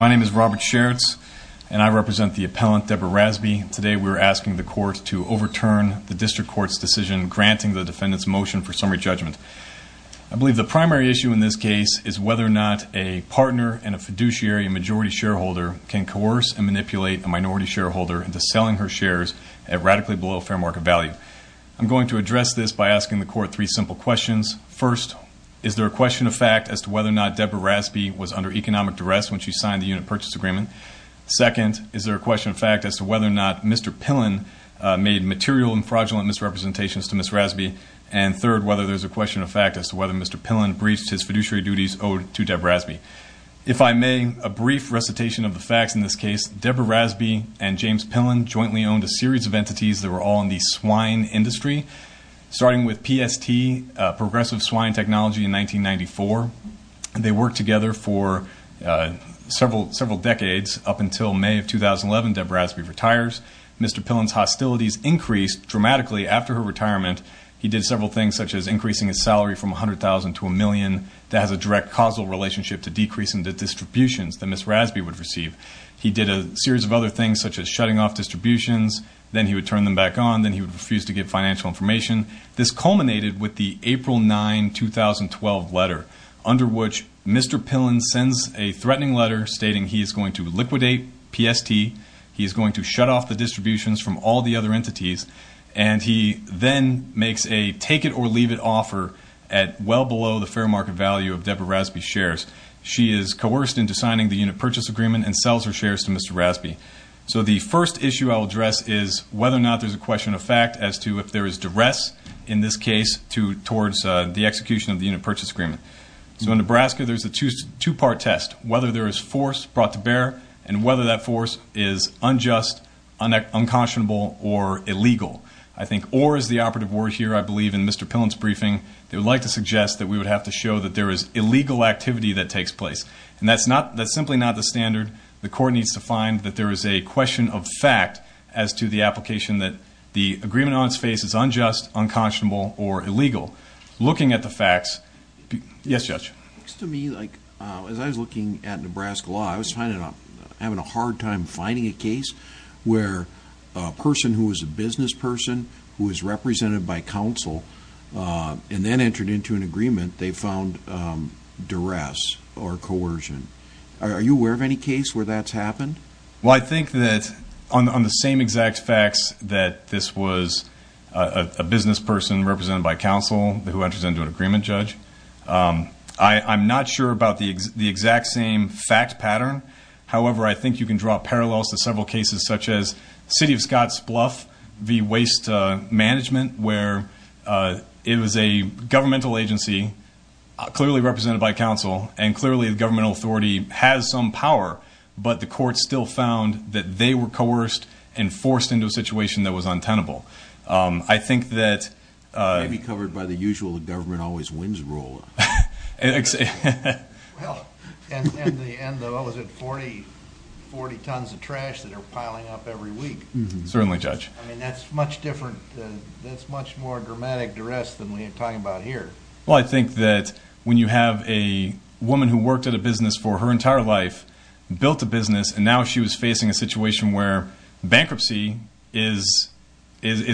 My name is Robert Sheritz and I represent the appellant Deborah Rasby. Today we are asking the court to overturn the district court's decision granting the defendant's motion for summary judgment. I believe the primary issue in this case is whether or not a partner in a fiduciary majority shareholder can coerce and manipulate a minority shareholder into selling her shares at radically below fair market value. I'm going to address this by asking the court three simple questions. First, is there a question of fact as to whether or not Deborah Rasby was under economic duress when she signed the unit purchase agreement? Second, is there a question of fact as to whether or not Mr. Pillen made material and fraudulent misrepresentations to Ms. Rasby? And third, whether there is a question of fact as to whether Mr. Pillen breached his fiduciary duties owed to Deborah Rasby? If I may, a brief recitation of the facts in this case, Deborah Rasby and James Pillen jointly owned a series of entities that were all in the swine industry, starting with PST, Progressive Swine Technology in 1994. They worked together for several decades, up until May of 2011, Deborah Rasby retires. Mr. Pillen's hostilities increased dramatically after her retirement. He did several things, such as increasing his salary from $100,000 to $1 million. That has a direct causal relationship to decreasing the distributions that Ms. Rasby would receive. He did a series of other things, such as shutting off distributions, then he would turn them back on, then he would refuse to give financial information. This culminated with the April 9, 2012 letter, under which Mr. Pillen sends a threatening letter stating he is going to liquidate PST, he is going to shut off the distributions from all the other entities, and he then makes a take-it-or-leave-it offer at well below the fair market value of Deborah Rasby's shares. She is coerced into signing the unit purchase agreement and sells her shares to Mr. Rasby. So the first issue I'll address is whether or not there's a question of fact as to if there is duress in this case towards the execution of the unit purchase agreement. So in Nebraska, there's a two-part test, whether there is force brought to bear and whether that force is unjust, unconscionable, or illegal. I think or is the operative word here, I believe, in Mr. Pillen's briefing. They would like to suggest that we would have to show that there is illegal activity that takes place. And that's simply not the standard. The court needs to find that there is a question of fact as to the application that the agreement on its face is unjust, unconscionable, or illegal. Looking at the facts... Yes, Judge. It looks to me like, as I was looking at Nebraska law, I was having a hard time finding a case where a person who was a business person, who was represented by counsel, and then entered into an agreement, they found duress or coercion. Are you aware of any case where that's happened? Well, I think that on the same exact facts that this was a business person represented by counsel who enters into an agreement, Judge, I'm not sure about the exact same fact pattern. However, I think you can draw parallels to several cases such as City of Scotts Bluff v. Waste Management, where it was a governmental agency clearly represented by counsel and clearly the governmental authority has some power, but the court still found that they were coerced and forced into a situation that was untenable. I think that... Maybe covered by the usual government always wins rule. Well, and the end of, what was it, 40 tons of trash that are piling up every week. Certainly, Judge. I mean, that's much different, that's much more dramatic duress than we are talking about here. Well, I think that when you have a woman who worked at a business for her entire life, built a business, and now she was facing a situation where bankruptcy is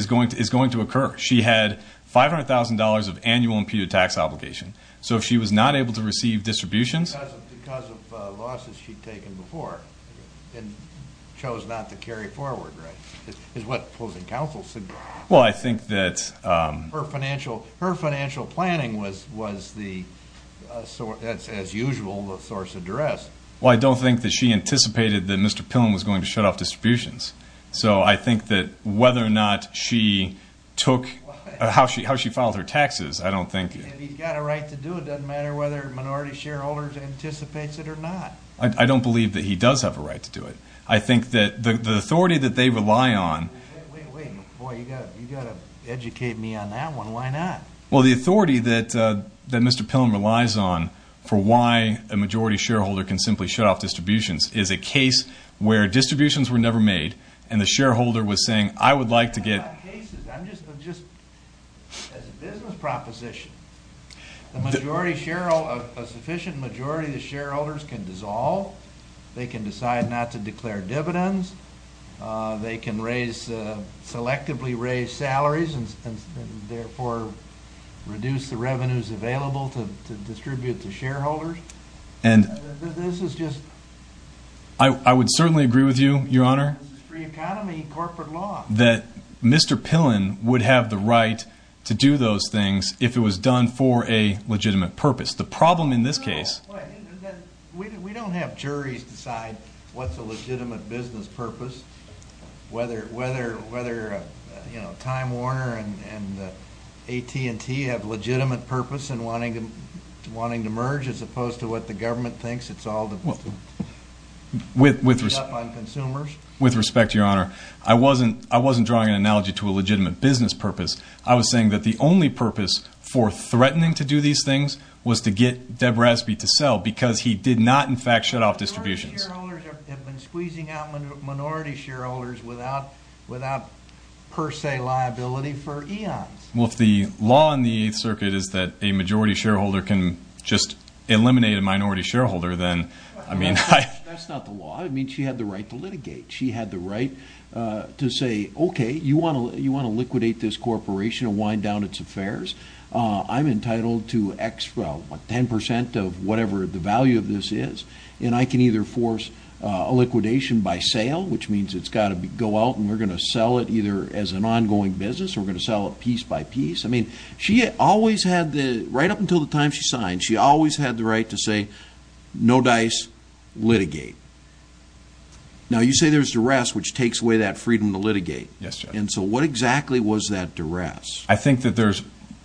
going to occur. She had $500,000 of annual imputed tax obligation. So if she was not able to receive distributions... Because of losses she'd taken before and chose not to carry forward, right, is what closing counsel said. Well, I think that... Her financial planning was the, as usual, the source of duress. Well, I don't think that she anticipated that Mr. Pillen was going to shut off distributions. So I think that whether or not she took, how she filed her taxes, I don't think... If he's got a right to do it, it doesn't matter whether minority shareholders anticipates it or not. I don't believe that he does have a right to do it. I think that the authority that they rely on... Wait, wait, wait. Boy, you've got to educate me on that one. Why not? Well, the authority that Mr. Pillen relies on for why a majority shareholder can simply shut off distributions is a case where distributions were never made and the shareholder was saying, I would like to get... I'm not talking about cases. I'm just... As a business proposition, a sufficient majority of the shareholders can dissolve. They can decide not to declare dividends. They can selectively raise salaries and therefore reduce the revenues available to distribute to shareholders. This is just... I would certainly agree with you, Your Honor. This is free economy and corporate law. That Mr. Pillen would have the right to do those things if it was done for a legitimate purpose. The problem in this case... We don't have juries decide what's a legitimate business purpose, whether Time Warner and AT&T have legitimate purpose in wanting to merge as opposed to what the government thinks. It's all to beat up on consumers. With respect, Your Honor, I wasn't drawing an analogy to a legitimate business purpose. I was saying that the only purpose for threatening to do these things was to get Deb Raspi to not, in fact, shut off distributions. Minority shareholders have been squeezing out minority shareholders without per se liability for eons. Well, if the law in the Eighth Circuit is that a majority shareholder can just eliminate a minority shareholder, then I mean... That's not the law. I mean, she had the right to litigate. She had the right to say, okay, you want to liquidate this corporation and wind down its affairs? I'm entitled to X, well, what, 10% of whatever the value of this is, and I can either force a liquidation by sale, which means it's got to go out and we're going to sell it either as an ongoing business or we're going to sell it piece by piece. I mean, she always had the... Right up until the time she signed, she always had the right to say, no dice, litigate. Now you say there's duress, which takes away that freedom to litigate. Yes, Your Honor. And so what exactly was that duress? I think that there's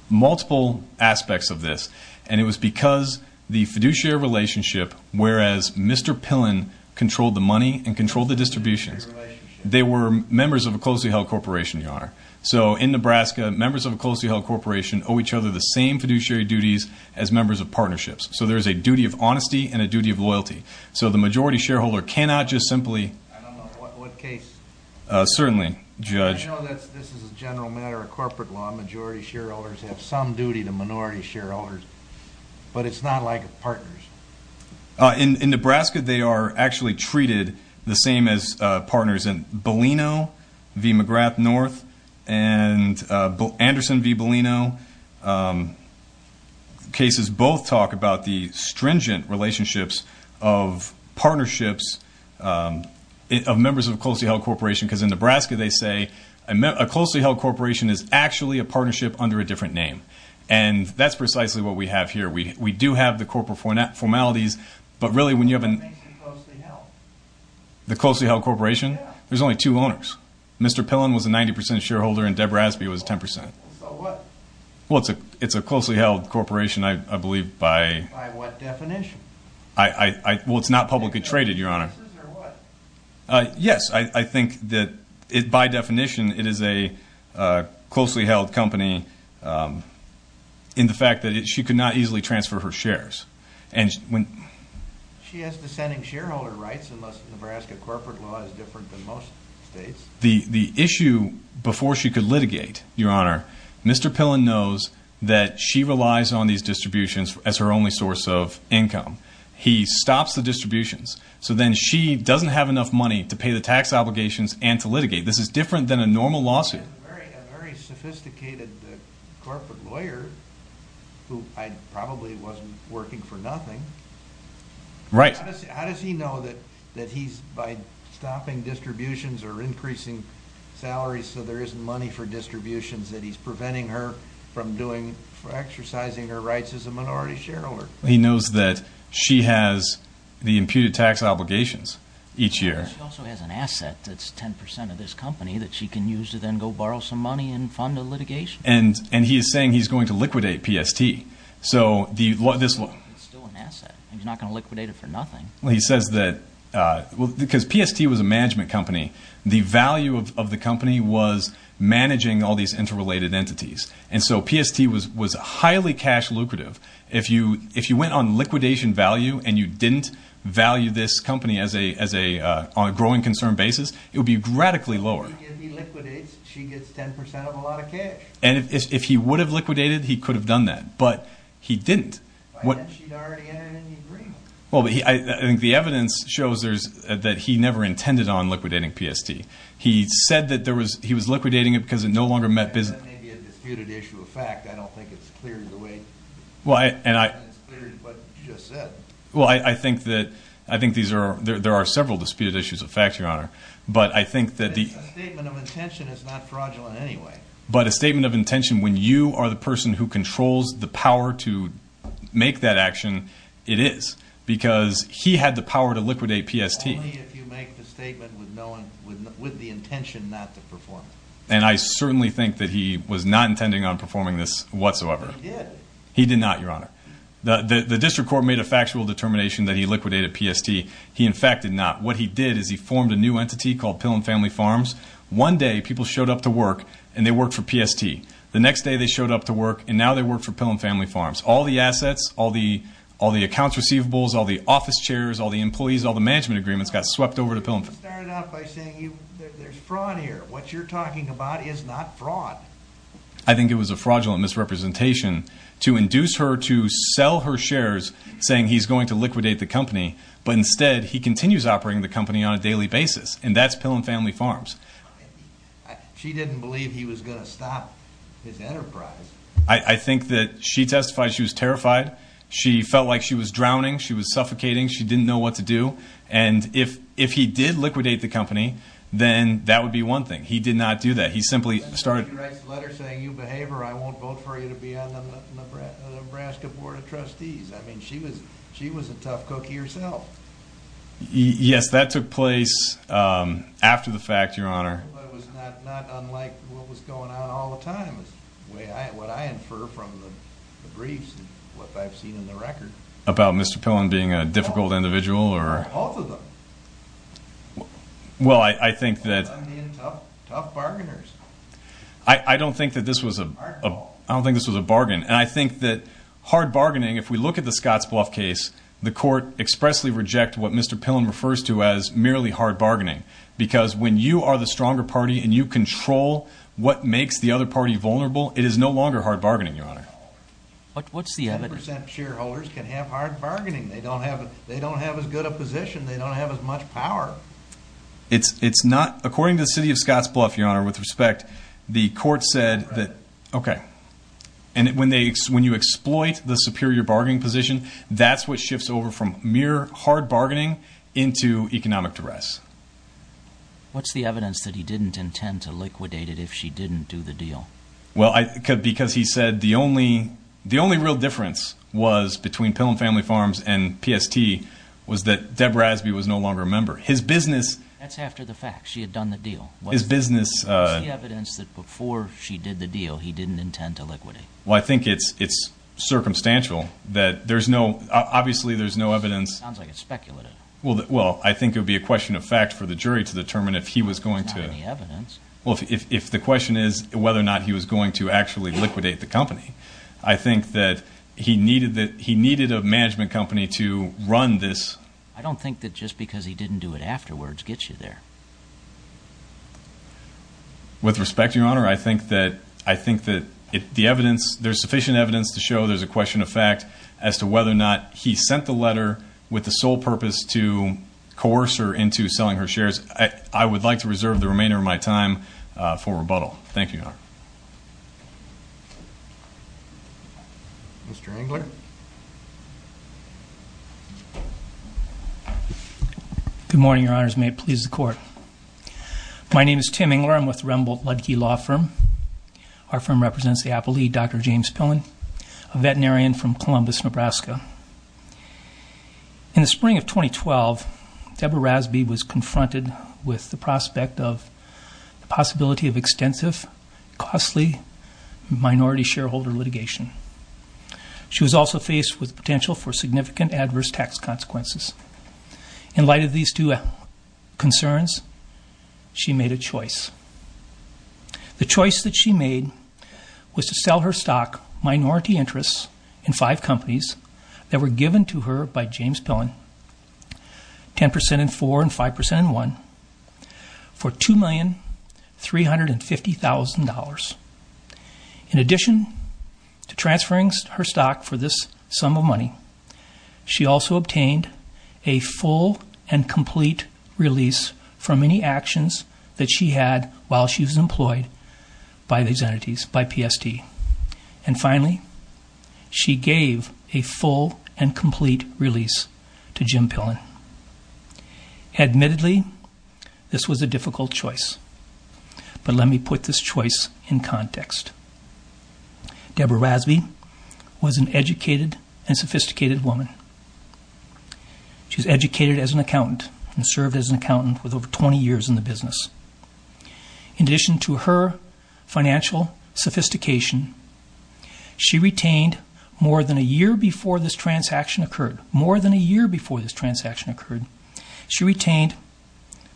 multiple aspects of this, and it was because the fiduciary relationship, whereas Mr. Pillen controlled the money and controlled the distributions, they were members of a closely held corporation, Your Honor. So in Nebraska, members of a closely held corporation owe each other the same fiduciary duties as members of partnerships. So there's a duty of honesty and a duty of loyalty. So the majority shareholder cannot just simply... I don't know what case... Certainly, Judge. I know that this is a general matter of corporate law. Majority shareholders have some duty to minority shareholders, but it's not like partners. In Nebraska, they are actually treated the same as partners in Bellino v. McGrath North and Anderson v. Bellino. Cases both talk about the stringent relationships of partnerships of members of a closely held corporation. Because in Nebraska, they say a closely held corporation is actually a partnership under a different name. And that's precisely what we have here. We do have the corporate formalities, but really when you have a... What makes it closely held? The closely held corporation? Yeah. There's only two owners. Mr. Pillen was a 90% shareholder, and Debra Aspie was 10%. So what? Well, it's a closely held corporation, I believe, by... By what definition? Well, it's not publicly traded, Your Honor. Is it businesses or what? Yes. I think that, by definition, it is a closely held company in the fact that she could not easily transfer her shares. And when... She has dissenting shareholder rights, unless Nebraska corporate law is different than most states. The issue, before she could litigate, Your Honor, Mr. Pillen knows that she relies on these distributions as her only source of income. He stops the distributions. So then she doesn't have enough money to pay the tax obligations and to litigate. This is different than a normal lawsuit. He's a very sophisticated corporate lawyer, who probably wasn't working for nothing. Right. How does he know that he's, by stopping distributions or increasing salaries so there isn't money for distributions, that he's preventing her from exercising her rights as a minority shareholder? He knows that she has the imputed tax obligations each year. She also has an asset that's 10% of this company that she can use to then go borrow some money and fund a litigation. And he is saying he's going to liquidate PST. So the... It's still an asset. He's not going to liquidate it for nothing. He says that... Because PST was a management company. The value of the company was managing all these interrelated entities. And so PST was highly cash lucrative. If you went on liquidation value and you didn't value this company on a growing concern basis, it would be radically lower. If he liquidates, she gets 10% of a lot of cash. And if he would have liquidated, he could have done that. But he didn't. But then she'd already entered into an agreement. Well, I think the evidence shows that he never intended on liquidating PST. He said that he was liquidating it because it no longer met business... That may be a disputed issue of fact. I don't think it's clear to the way... And it's clear to what you just said. Well, I think that... I think there are several disputed issues of fact, Your Honor. But I think that the... A statement of intention is not fraudulent anyway. But a statement of intention, when you are the person who controls the power to make that action, it is. Because he had the power to liquidate PST. Only if you make the statement with the intention not to perform it. And I certainly think that he was not intending on performing this whatsoever. He did. He did not, Your Honor. The district court made a factual determination that he liquidated PST. He, in fact, did not. What he did is he formed a new entity called Pillum Family Farms. One day, people showed up to work, and they worked for PST. The next day, they showed up to work, and now they work for Pillum Family Farms. All the assets, all the accounts receivables, all the office chairs, all the employees, all the management agreements got swept over to Pillum. He started out by saying there's fraud here. What you're talking about is not fraud. I think it was a fraudulent misrepresentation to induce her to sell her shares, saying he's going to liquidate the company. But instead, he continues operating the company on a daily basis. And that's Pillum Family Farms. She didn't believe he was going to stop his enterprise. I think that she testified she was terrified. She felt like she was drowning. She was suffocating. She didn't know what to do. And if he did liquidate the company, then that would be one thing. He did not do that. He simply started. He writes a letter saying, you behave or I won't vote for you to be on the Nebraska Board of Trustees. I mean, she was a tough cookie herself. Yes, that took place after the fact, Your Honor. But it was not unlike what was going on all the time, what I infer from the briefs and what I've seen in the record. About Mr. Pillum being a difficult individual or? Both of them. Well, I think that. Tough bargainers. I don't think that this was a bargain. And I think that hard bargaining, if we look at the Scotts Bluff case, the court expressly reject what Mr. Pillum refers to as merely hard bargaining. Because when you are the stronger party and you control what makes the other party vulnerable, it is no longer hard bargaining, Your Honor. What's the evidence? 100% shareholders can have hard bargaining. They don't have as good a position. They don't have as much power. It's not. According to the city of Scotts Bluff, Your Honor, with respect, the court said that. Okay. And when you exploit the superior bargaining position, that's what shifts over from mere hard bargaining into economic duress. What's the evidence that he didn't intend to liquidate it if she didn't do the deal? Well, because he said the only real difference was between Pillum Family Farms and PST was that Deb Rasby was no longer a member. His business. That's after the fact. She had done the deal. His business. What's the evidence that before she did the deal, he didn't intend to liquidate? Well, I think it's circumstantial that there's no. Obviously, there's no evidence. Sounds like it's speculative. Well, I think it would be a question of fact for the jury to determine if he was going to. There's not any evidence. Well, if the question is whether or not he was going to actually liquidate the company, I think that he needed a management company to run this. I don't think that just because he didn't do it afterwards gets you there. With respect, Your Honor, I think that the evidence, there's sufficient evidence to show there's a question of fact as to whether or not he sent the letter with the sole purpose to coerce her into selling her shares. I would like to reserve the remainder of my time for rebuttal. Thank you, Your Honor. Mr. Engler. Good morning, Your Honors. May it please the Court. My name is Tim Engler. I'm with the Remboldt-Ludke Law Firm. Our firm represents the Apple lead, Dr. James Pillen, a veterinarian from Columbus, Nebraska. In the spring of 2012, Deborah Rasby was confronted with the prospect of the possibility of extensive, costly minority shareholder litigation. She was also faced with potential for significant adverse tax consequences. In light of these two concerns, she made a choice. The choice that she made was to sell her stock minority interest in five companies that were given to her by James Pillen, 10% in four and 5% in one, for $2,350,000. In addition to transferring her stock for this sum of money, she also obtained a full and complete release from any actions that she had while she was employed by these entities, by PST. And finally, she gave a full and complete release to Jim Pillen. Admittedly, this was a difficult choice. But let me put this choice in context. Deborah Rasby was an educated and sophisticated woman. She was educated as an accountant and served as an accountant with over 20 years in the business. In addition to her financial sophistication, she retained, more than a year before this transaction occurred, more than a year before this transaction occurred, she retained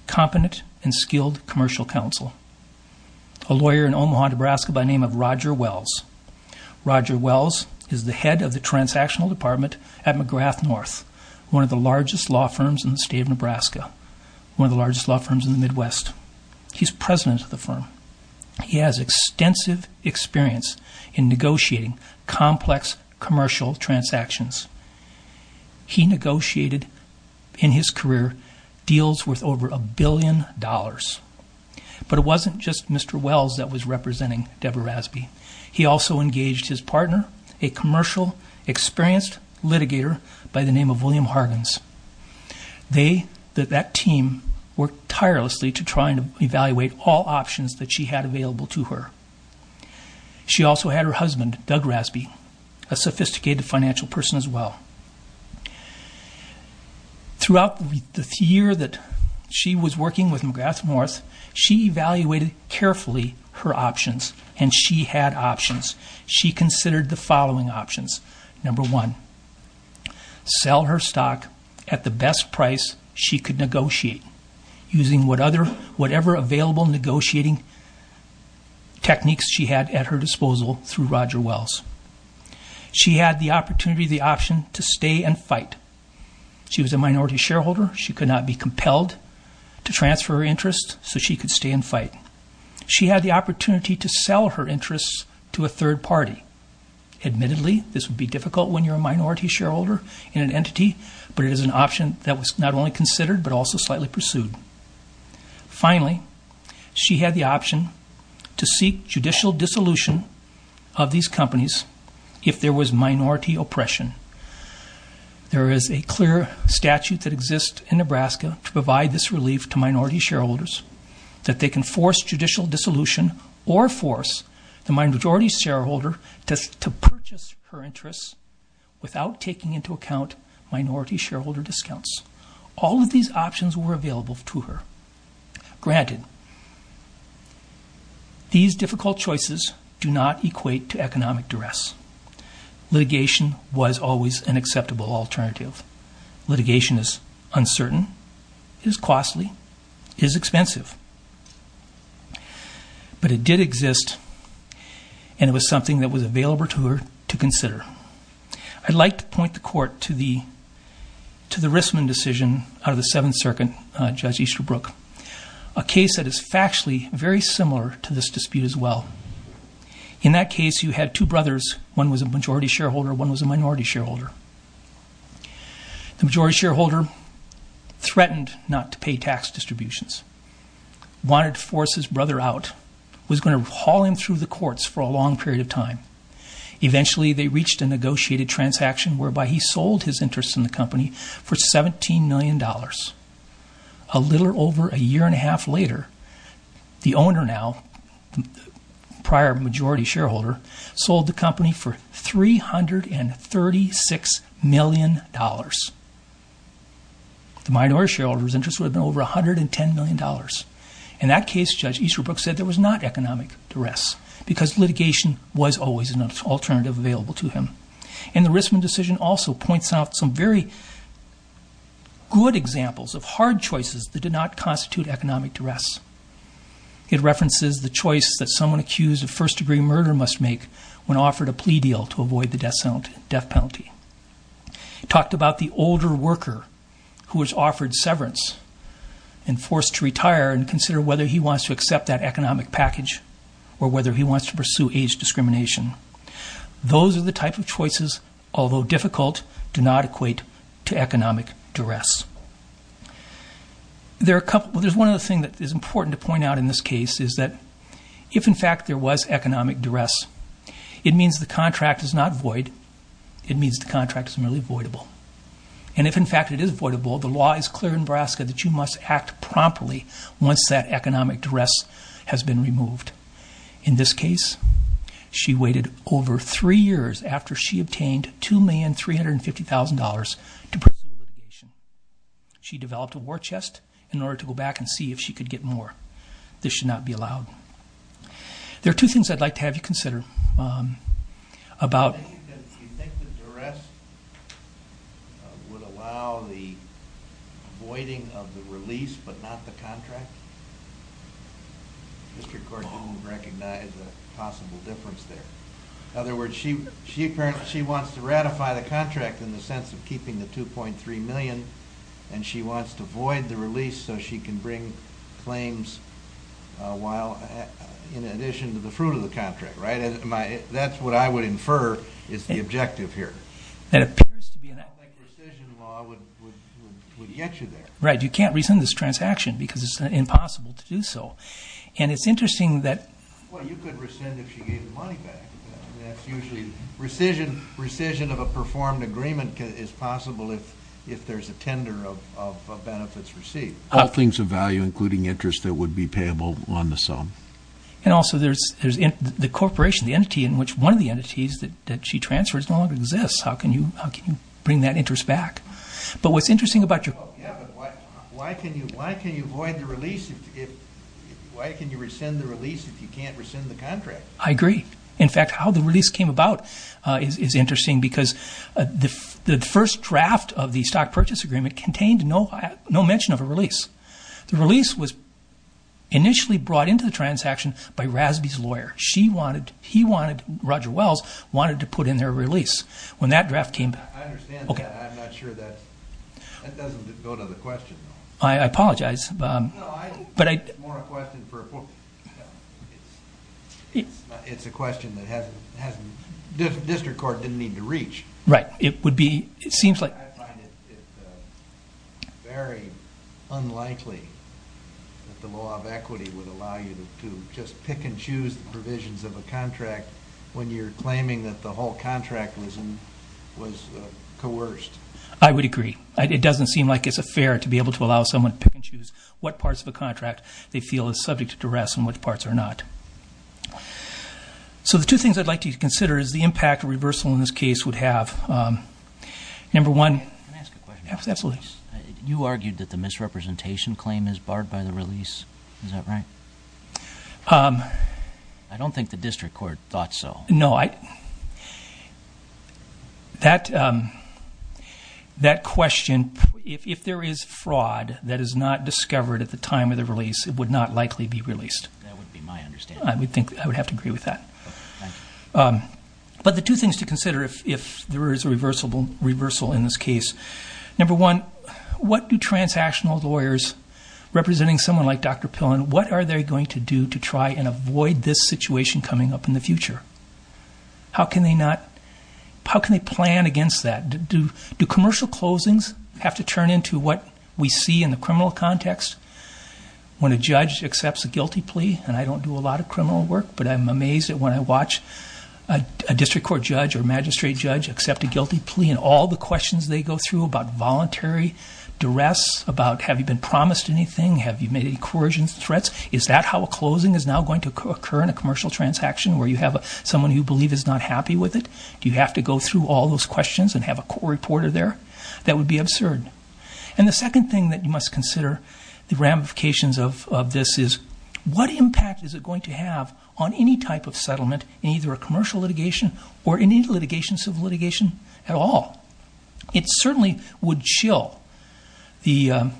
competent and skilled commercial counsel, a lawyer in Omaha, Nebraska, by the name of Roger Wells. Roger Wells is the head of the transactional department at McGrath North, one of the largest law firms in the state of Nebraska, one of the largest law firms in the Midwest. He's president of the firm. He has extensive experience in negotiating complex commercial transactions. He negotiated, in his career, deals worth over a billion dollars. But it wasn't just Mr. Wells that was representing Deborah Rasby. He also engaged his partner, a commercial, experienced litigator by the name of William Hargens. They, that team, worked tirelessly to try and evaluate all options that she had available to her. She also had her husband, Doug Rasby, a sophisticated financial person as well. Throughout the year that she was working with McGrath North, she evaluated carefully her options, and she had options. She considered the following options. Number one, sell her stock at the best price she could negotiate using whatever available negotiating techniques she had at her disposal through Roger Wells. She had the opportunity, the option, to stay and fight. She was a minority shareholder. She could not be compelled to transfer her interest, so she could stay and fight. She had the opportunity to sell her interests to a third party. Admittedly, this would be difficult when you're a minority shareholder in an entity, but it is an option that was not only considered but also slightly pursued. Finally, she had the option to seek judicial dissolution of these companies if there was minority oppression. There is a clear statute that exists in Nebraska to provide this relief to minority shareholders, that they can force judicial dissolution or force the minority shareholder to purchase her interests without taking into account minority shareholder discounts. All of these options were available to her. Granted, these difficult choices do not equate to economic duress. Litigation was always an acceptable alternative. Litigation is uncertain, is costly, is expensive. But it did exist, and it was something that was available to her to consider. I'd like to point the court to the Rissman decision out of the Seventh Circuit, Judge Easterbrook, a case that is factually very similar to this dispute as well. In that case, you had two brothers. One was a majority shareholder, one was a minority shareholder. The majority shareholder threatened not to pay tax distributions, wanted to force his brother out, was going to haul him through the courts for a long period of time. Eventually, they reached a negotiated transaction whereby he sold his interest in the company for $17 million. A little over a year and a half later, the owner now, prior majority shareholder, sold the company for $336 million. The minority shareholder's interest would have been over $110 million. In that case, Judge Easterbrook said there was not economic duress because litigation was always an alternative available to him. And the Rissman decision also points out some very good examples of hard choices that did not constitute economic duress. It references the choice that someone accused of first-degree murder must make when offered a plea deal to avoid the death penalty. It talked about the older worker who was offered severance and forced to retire and consider whether he wants to accept that economic package or whether he wants to pursue age discrimination. Those are the type of choices, although difficult, do not equate to economic duress. There's one other thing that is important to point out in this case is that if, in fact, there was economic duress, it means the contract is not void. It means the contract is merely voidable. And if, in fact, it is voidable, the law is clear in Nebraska that you must act promptly once that economic duress has been removed. In this case, she waited over three years after she obtained $2,350,000 to pursue litigation. She developed a war chest in order to go back and see if she could get more. This should not be allowed. There are two things I'd like to have you consider. Do you think that duress would allow the voiding of the release but not the contract? Mr. Cordoon recognized a possible difference there. In other words, she wants to ratify the contract in the sense of keeping the $2.3 million, and she wants to void the release so she can bring claims in addition to the fruit of the contract. That's what I would infer is the objective here. I don't think rescission law would get you there. Right, you can't rescind this transaction because it's impossible to do so. And it's interesting that... Well, you could rescind if she gave the money back. That's usually rescission of a performed agreement is possible if there's a tender of benefits received. All things of value, including interest that would be payable on the sum. And also there's the corporation, the entity in which one of the entities that she transfers no longer exists. How can you bring that interest back? But what's interesting about your... Yeah, but why can you void the release if... Why can you rescind the release if you can't rescind the contract? I agree. In fact, how the release came about is interesting because the first draft of the stock purchase agreement contained no mention of a release. The release was initially brought into the transaction by Rasby's lawyer. She wanted, he wanted, Roger Wells wanted to put in their release. When that draft came... I understand that. I'm not sure that... That doesn't go to the question, though. I apologize. No, I think it's more a question for... It's a question that hasn't... District court didn't need to reach. Right, it would be, it seems like... I find it very unlikely that the law of equity would allow you to just pick and choose the provisions of a contract when you're claiming that the whole contract was coerced. I would agree. It doesn't seem like it's fair to be able to allow someone to pick and choose what parts of a contract they feel is subject to rest and which parts are not. So the two things I'd like you to consider is the impact reversal in this case would have. Number one... Can I ask a question? Absolutely. You argued that the misrepresentation claim is barred by the release. Is that right? I don't think the district court thought so. No, I... That question, if there is fraud that is not discovered at the time of the release, it would not likely be released. That would be my understanding. I would think, I would have to agree with that. Thank you. But the two things to consider if there is a reversal in this case. Number one, what do transactional lawyers representing someone like Dr. Pillen, what are they going to do to try and avoid this situation coming up in the future? How can they not... How can they plan against that? Do commercial closings have to turn into what we see in the criminal context? When a judge accepts a guilty plea, and I don't do a lot of criminal work, but I'm amazed at when I watch a district court judge or magistrate judge accept a guilty plea and all the questions they go through about voluntary duress, about have you been promised anything, have you made any coercion threats, is that how a closing is now going to occur in a commercial transaction where you have someone who you believe is not happy with it? Do you have to go through all those questions and have a court reporter there? That would be absurd. And the second thing that you must consider, the ramifications of this, is what impact is it going to have on any type of settlement in either a commercial litigation or any litigation, civil litigation at all? It certainly would chill the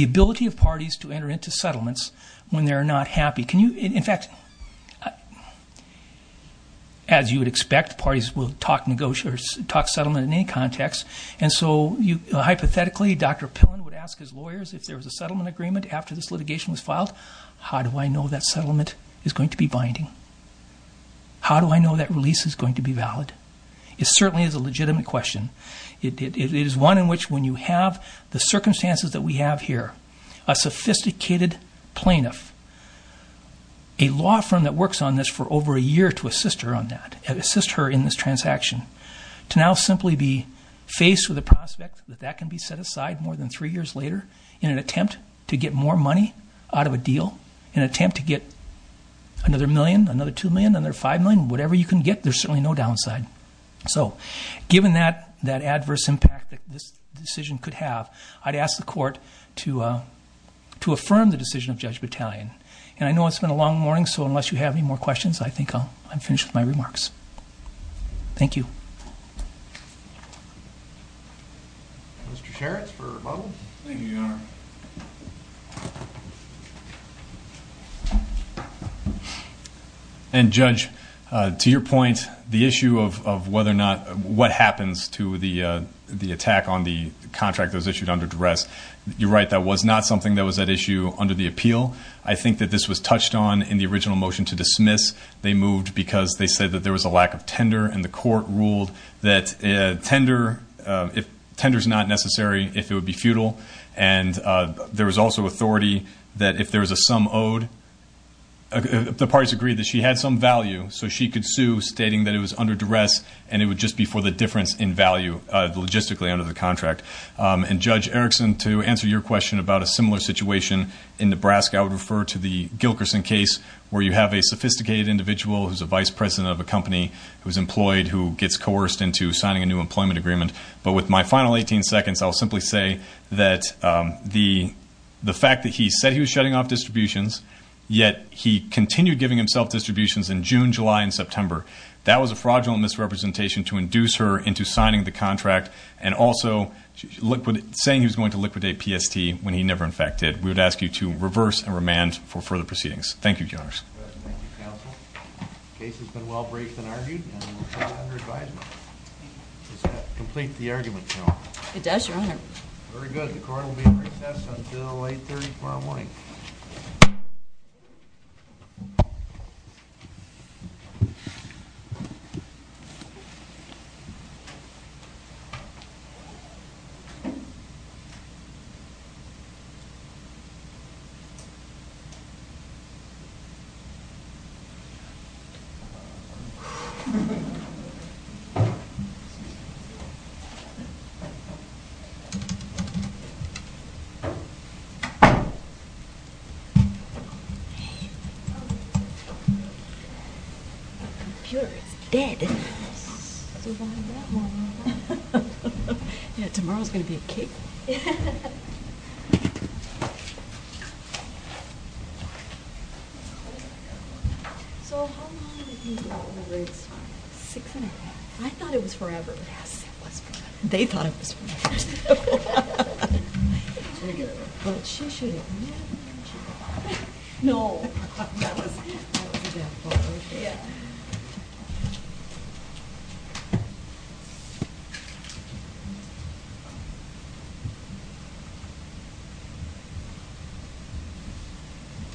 ability of parties to enter into settlements when they're not happy. In fact, as you would expect, parties will talk settlement in any context, and so hypothetically Dr. Pillen would ask his lawyers if there was a settlement agreement after this litigation was filed, how do I know that settlement is going to be binding? How do I know that release is going to be valid? It certainly is a legitimate question. It is one in which when you have the circumstances that we have here, a sophisticated plaintiff, a law firm that works on this for over a year to assist her on that, assist her in this transaction, to now simply be faced with the prospect that that can be set aside more than three years later in an attempt to get more money out of a deal, in an attempt to get another million, another two million, another five million, whatever you can get, there's certainly no downside. So given that adverse impact that this decision could have, I'd ask the court to affirm the decision of Judge Battalion. And I know it's been a long morning, so unless you have any more questions, I think I'm finished with my remarks. Thank you. Mr. Sherratts for mobile. Thank you, Your Honor. And Judge, to your point, the issue of whether or not, what happens to the attack on the contract that was issued under duress, you're right, that was not something that was at issue under the appeal. I think that this was touched on in the original motion to dismiss. They moved because they said that there was a lack of tender and the court ruled that tender is not necessary if it would be futile. And there was also authority that if there was a sum owed, the parties agreed that she had some value, so she could sue stating that it was under duress and it would just be for the difference in value logistically under the contract. And, Judge Erickson, to answer your question about a similar situation in Nebraska, I would refer to the Gilkerson case where you have a sophisticated individual who's a vice president of a company, who's employed, who gets coerced into signing a new employment agreement. But with my final 18 seconds, I'll simply say that the fact that he said he was shutting off distributions, yet he continued giving himself distributions in June, July, and September, that was a fraudulent misrepresentation to induce her into signing the contract and also saying he was going to liquidate PST when he never in fact did. We would ask you to reverse and remand for further proceedings. Thank you, Your Honors. Thank you, Counsel. The case has been well-briefed and argued, and we'll send it under advisement. Does that complete the argument, Your Honor? It does, Your Honor. Very good. The court will be in recess until 8.30 tomorrow morning. Thank you, Your Honor. Okay. My computer is dead. Tomorrow's going to be a kick. So how long have you been over there this time? Six and a half. Yes, it was forever. They thought it was forever. No. That was a death blow.